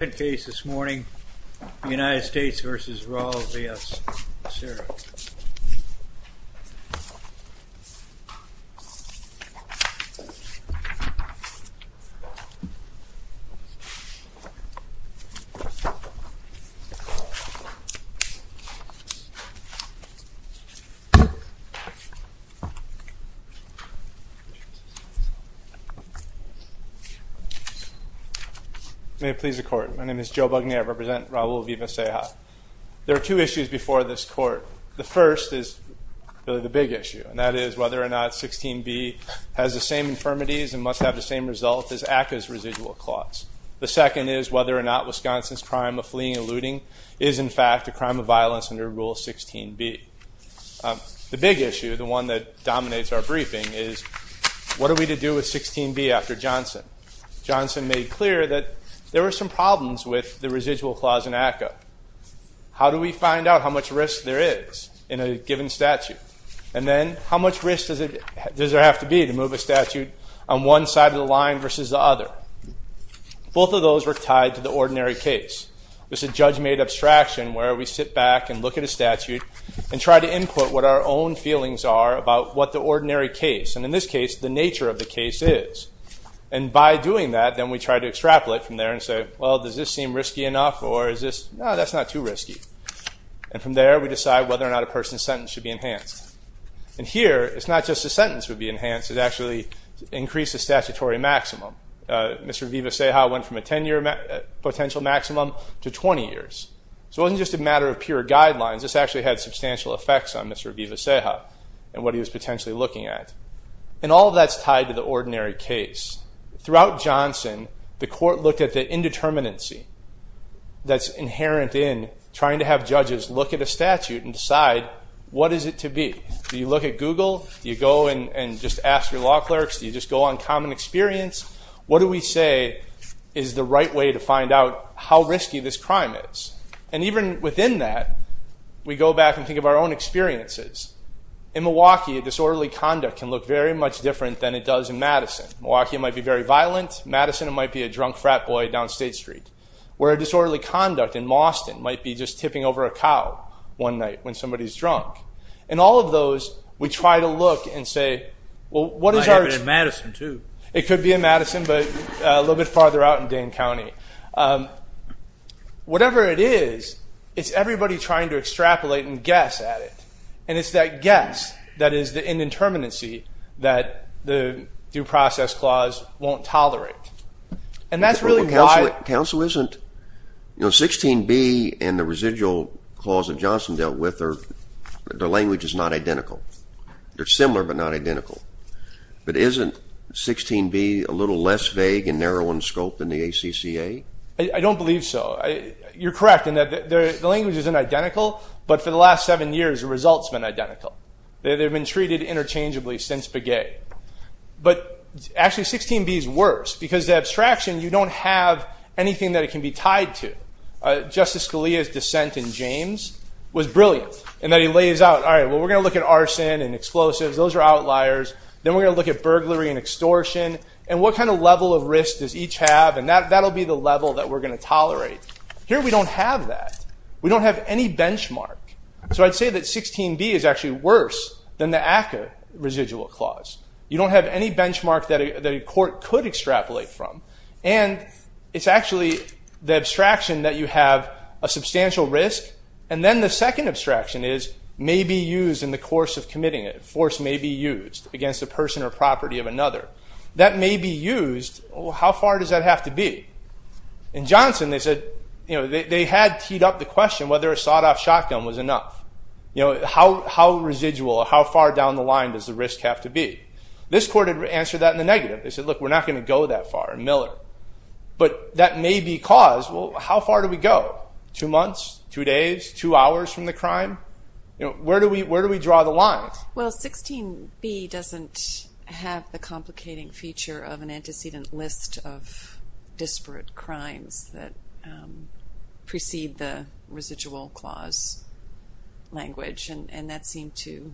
United States v. Raul Vivas-Ceja Joe Bugnier, Raul Vivas-Ceja Joe Bugnier, Raul Vivas-Ceja Joe Bugnier, Raul Vivas-Ceja Joe Bugnier, Raul Vivas-Ceja Joe Bugnier, Raul Vivas-Ceja Joe Bugnier, Raul Vivas-Ceja You know, 16b and the residual clause that Johnson dealt with, their language is not identical. They're similar, but not identical. But isn't 16b a little less vague and narrow in scope than the ACCA? I don't believe so. You're correct in that the language isn't identical, but for the last seven years, the result's been identical. They've been treated interchangeably since Begay. But actually, 16b is worse because the abstraction, you don't have anything that it can be tied to. Justice Scalia's dissent in James was brilliant in that he lays out, all right, well, we're going to look at arson and explosives. Those are outliers. Then we're going to look at burglary and extortion. And what kind of level of risk does each have? And that'll be the level that we're going to tolerate. Here, we don't have that. We don't have any benchmark. So I'd say that 16b is actually worse than the ACCA residual clause. You don't have any benchmark that a court could extrapolate from. And it's actually the abstraction that you have a substantial risk. And then the second abstraction is may be used in the course of committing it. A force may be used against a person or property of another. That may be used. How far does that have to be? In Johnson, they said, they had teed up the question whether a sawed-off shotgun was enough. How residual, how far down the line does the risk have to be? This court had answered that in the negative. They said, look, we're not going to go that far in Miller. But that may be cause. Well, how far do we go? Two months, two days, two hours from the crime? Where do we draw the line? Well, 16b doesn't have the complicating feature of an antecedent list of disparate crimes that precede the residual clause language. And that seemed to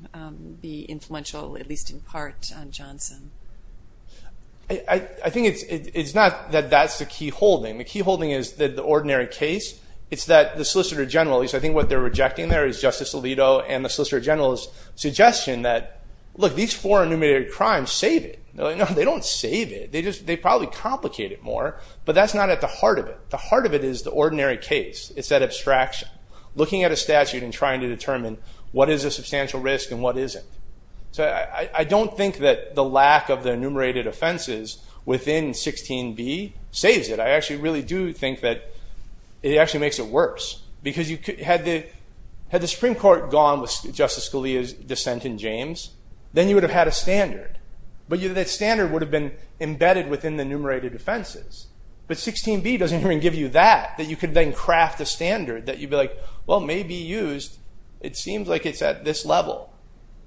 be influential, at least in part, on Johnson. I think it's not that that's the key holding. The key holding is that the ordinary case, it's that the Solicitor General, at least I think what they're rejecting there is Justice Alito and the Solicitor General's suggestion that, look, these four enumerated crimes save it. No, they don't save it. They probably complicate it more. But that's not at the heart of it. The heart of it is the ordinary case. It's that abstraction. Looking at a statute and trying to determine what is a substantial risk and what isn't. So I don't think that the lack of the enumerated offenses within 16b saves it. I actually really do think that it actually makes it worse. Because had the Supreme Court gone with Justice Scalia's dissent in James, then you would have had a standard. But that standard would have been embedded within the enumerated offenses. But 16b doesn't even give you that. That you could then craft a standard that you'd be like, well, it may be used. It seems like it's at this level.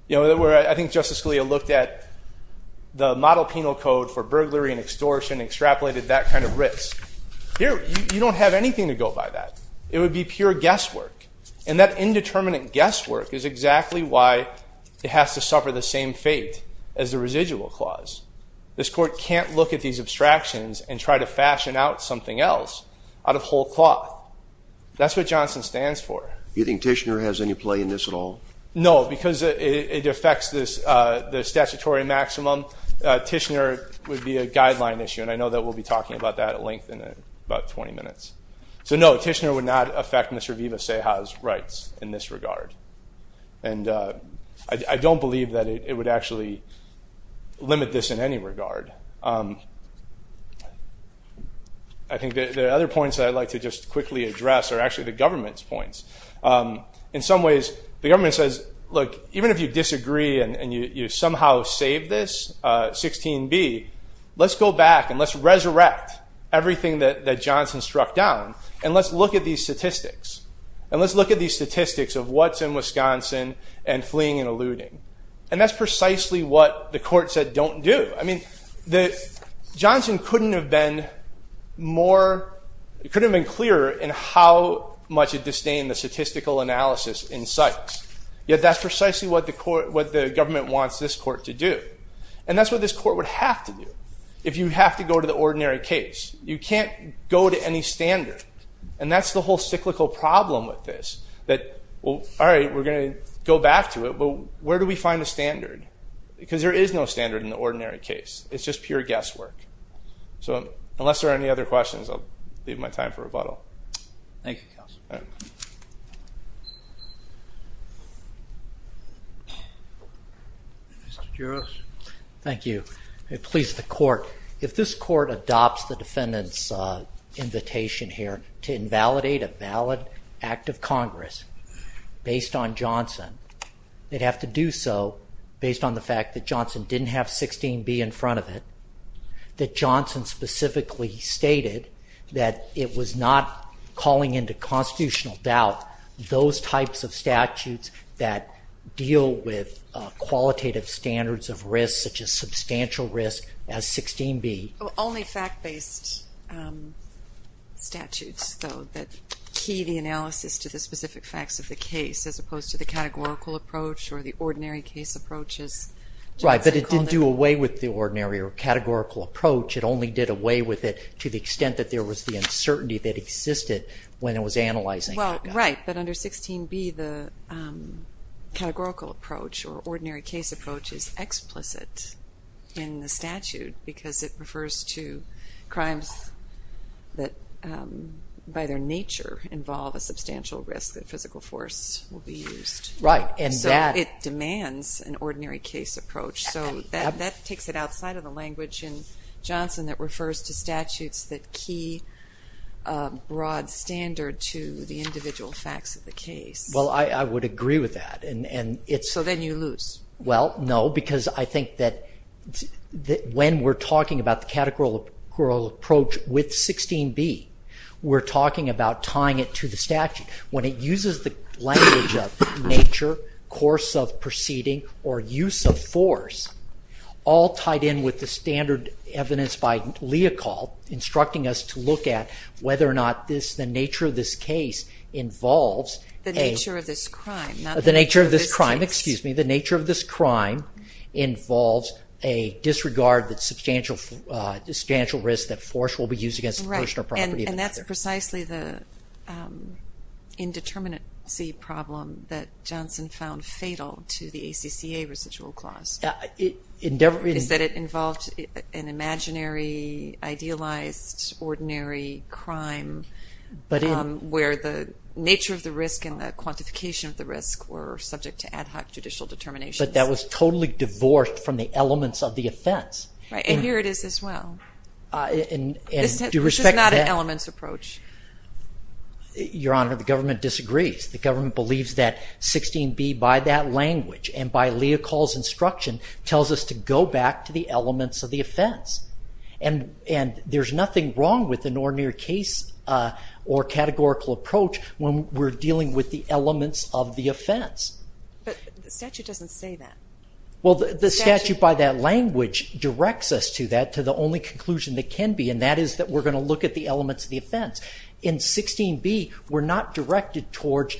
You know, where I think Justice Scalia looked at the model penal code for burglary and extortion and extrapolated that kind of risk. Here, you don't have anything to go by that. It would be pure guesswork. And that indeterminate guesswork is exactly why it has to suffer the same fate as the residual clause. This court can't look at these abstractions and try to fashion out something else out of whole cloth. That's what Johnson stands for. Do you think Tishner has any play in this at all? No, because it affects the statutory maximum. Tishner would be a guideline issue. And I know that we'll be talking about that at length in about 20 minutes. But this would not affect Mr. Vivas-Cejas' rights in this regard. And I don't believe that it would actually limit this in any regard. I think the other points that I'd like to just quickly address are actually the government's points. In some ways, the government says, look, even if you disagree and you somehow save this 16b, let's go back and let's resurrect everything that Johnson struck down. And let's look at these statistics. And let's look at these statistics of what's in Wisconsin and fleeing and eluding. And that's precisely what the court said don't do. Johnson couldn't have been more, couldn't have been clearer in how much it disdained the statistical analysis in sites. Yet that's precisely what the government wants this court to do. And that's what this court would have to do if you have to go to the ordinary case. You can't go to any standard. And that's the whole cyclical problem with this. That, well, all right, we're going to go back to it, but where do we find a standard? Because there is no standard in the ordinary case. It's just pure guesswork. So unless there are any other questions, I'll leave my time for rebuttal. Mr. Juras. Thank you. It pleased the court. If this court adopts the defendant's invitation here to invalidate a valid act of Congress based on Johnson, they'd have to do so based on the fact that Johnson didn't have 16B in front of it, that Johnson specifically stated that it was not calling into constitutional doubt those types of statutes that deal with qualitative standards of risk such as substantial risk as 16B. Only fact-based statutes, though, that key the analysis to the specific facts of the case as opposed to the categorical approach or the ordinary case approaches. Right, but it didn't do away with the ordinary or categorical approach. It only did away with it to the extent that there was the uncertainty that existed when it was analyzing. Well, right, but under 16B, the categorical approach or ordinary case approach is explicit in the statute because it refers to crimes that, by their nature, involve a substantial risk that physical force will be used. Right, and that... So it demands an ordinary case approach. So that takes it outside of the language in Johnson that refers to statutes that key a broad standard to the individual facts of the case. Well, I would agree with that. So then you lose. Well, no, because I think that when we're talking about the categorical approach with 16B, we're talking about tying it to the statute. When it uses the language of nature, course of proceeding, or use of force, all tied in with the standard evidence by Leocal instructing us to look at whether or not The nature of this crime, not the nature of this case. The nature of this crime, excuse me. The nature of this crime involves a disregard that substantial risk that force will be used against a person or property. Right, and that's precisely the indeterminacy problem that Johnson found fatal to the ACCA residual clause. Is that it involved an imaginary, idealized, ordinary crime where the nature of the risk and the quantification of the risk were subject to ad hoc judicial determinations? But that was totally divorced from the elements of the offense. Right, and here it is as well. This is not an elements approach. Your Honor, the government disagrees. The government believes that 16B, by that language, and by Leocal's instruction, tells us to go back to the elements of the offense. And there's nothing wrong with an ordinary case or categorical approach when we're dealing with the elements of the offense. But the statute doesn't say that. Well, the statute, by that language, directs us to that, to the only conclusion that can be, and that is that we're going to look at the elements of the offense. In 16B, we're not directed towards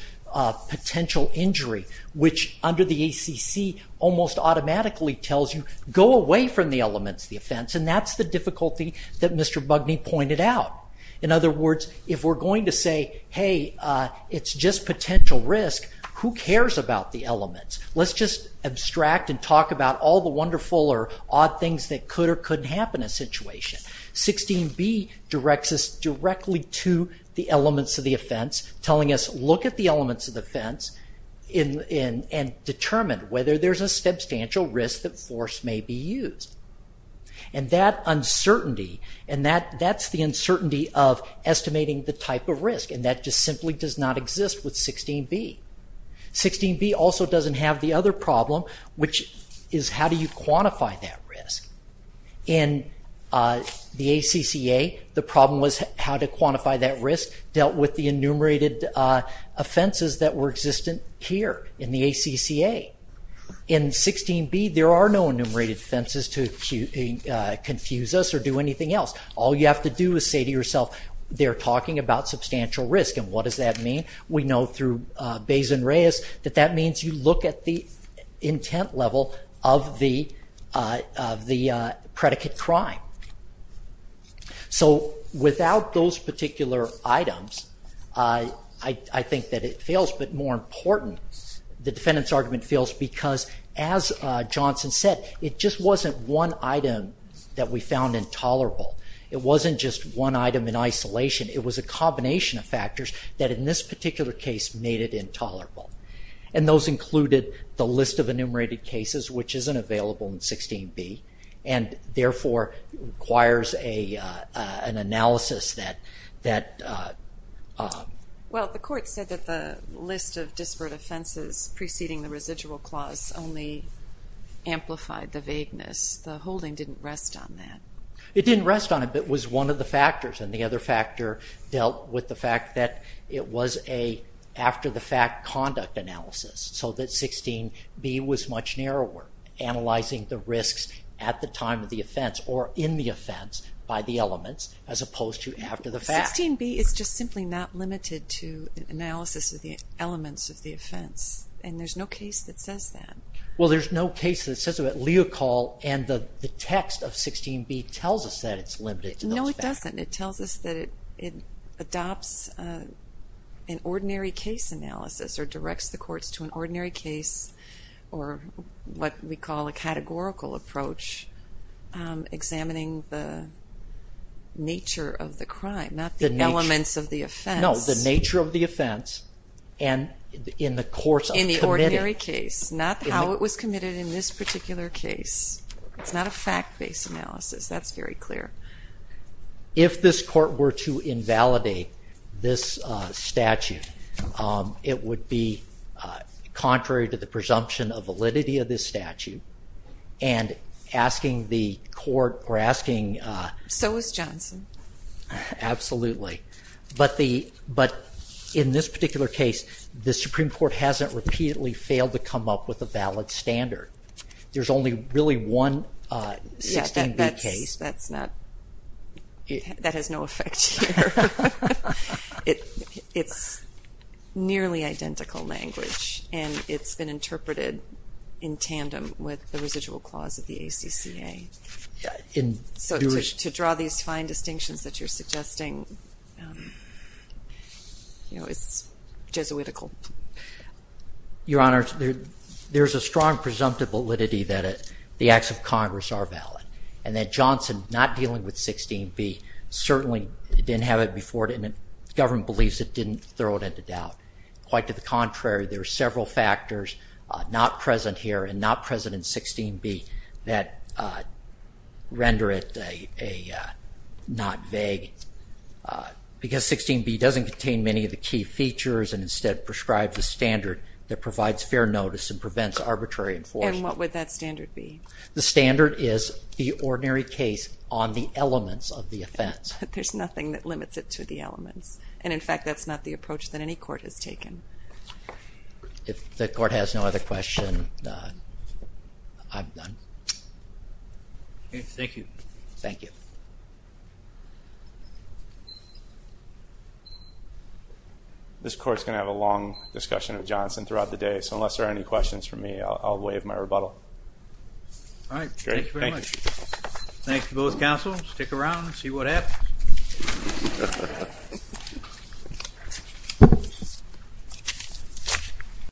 potential injury, which under the ACC almost automatically tells you go away from the elements of the offense. And that's the difficulty that Mr. Bugney pointed out. In other words, if we're going to say, hey, it's just potential risk, who cares about the elements? Let's just abstract and talk about all the wonderful or odd things that could or couldn't happen in a situation. 16B directs us directly to the elements of the offense, telling us look at the elements of the offense and determine whether there's a substantial risk that force may be used. And that uncertainty, and that's the uncertainty of estimating the type of risk, that just simply does not exist with 16B. 16B also doesn't have the other problem, which is how do you quantify that risk? In the ACCA, the problem was how to quantify that risk dealt with the enumerated offenses that were existent here in the ACCA. In 16B, there are no enumerated offenses to confuse us or do anything else. All you have to do is say to yourself they're talking about substantial risk, and what does that mean? We know through Bays and Reyes that that means you look at the intent level of the predicate crime. So without those particular items, I think that it fails. But more important, the defendant's argument fails because, as Johnson said, it just wasn't one item that we found intolerable. It wasn't just one item in isolation. It was a combination of factors that in this particular case made it intolerable. And those included the list of enumerated cases, which isn't available in 16B, and therefore requires an analysis that... Well, the court said that the list of disparate offenses preceding the residual clause only amplified the vagueness. The holding didn't rest on that. It was one of the factors, and the other factor dealt with the fact that it was an after-the-fact conduct analysis, so that 16B was much narrower, analyzing the risks at the time of the offense or in the offense by the elements as opposed to after the fact. 16B is just simply not limited to analysis of the elements of the offense, and there's no case that says that. Well, there's no case that says that. Leocall and the text of 16B tells us that it's limited to those factors. No, it doesn't. It tells us that it adopts an ordinary case analysis or directs the courts to an ordinary case or what we call a categorical approach, examining the nature of the crime, not the elements of the offense. No, the nature of the offense, and in the course of committing... In the ordinary case, not how it was committed in this particular case. It's not a fact-based analysis. That's very clear. If this court were to invalidate this statute, it would be contrary to the presumption of validity of this statute, and asking the court or asking... So is Johnson. Absolutely. But in this particular case, the Supreme Court hasn't repeatedly failed to come up with a valid standard. There's only really one 16B case. That's not... That has no effect here. It's nearly identical language, and it's been interpreted in tandem with the residual clause of the ACCA. So to draw these fine distinctions that you're suggesting, it's Jesuitical. Your Honor, there's a strong presumptive validity that the acts of Congress are valid, and that Johnson not dealing with 16B certainly didn't have it before, and the government believes it didn't throw it into doubt. Quite to the contrary, there are several factors not present here and not present in 16B that render it not vague, because 16B doesn't contain many of the key features and instead prescribes a standard that requires fair notice and prevents arbitrary enforcement. And what would that standard be? The standard is the ordinary case on the elements of the offense. There's nothing that limits it to the elements. And in fact, that's not the approach that any court has taken. If the court has no other questions, I'm done. Thank you. Thank you. This Court's going to have a long discussion of Johnson throughout the day, so unless there are any questions for me, I'll waive my rebuttal. Thank you very much. Thanks to both counsels. Stick around and see what happens.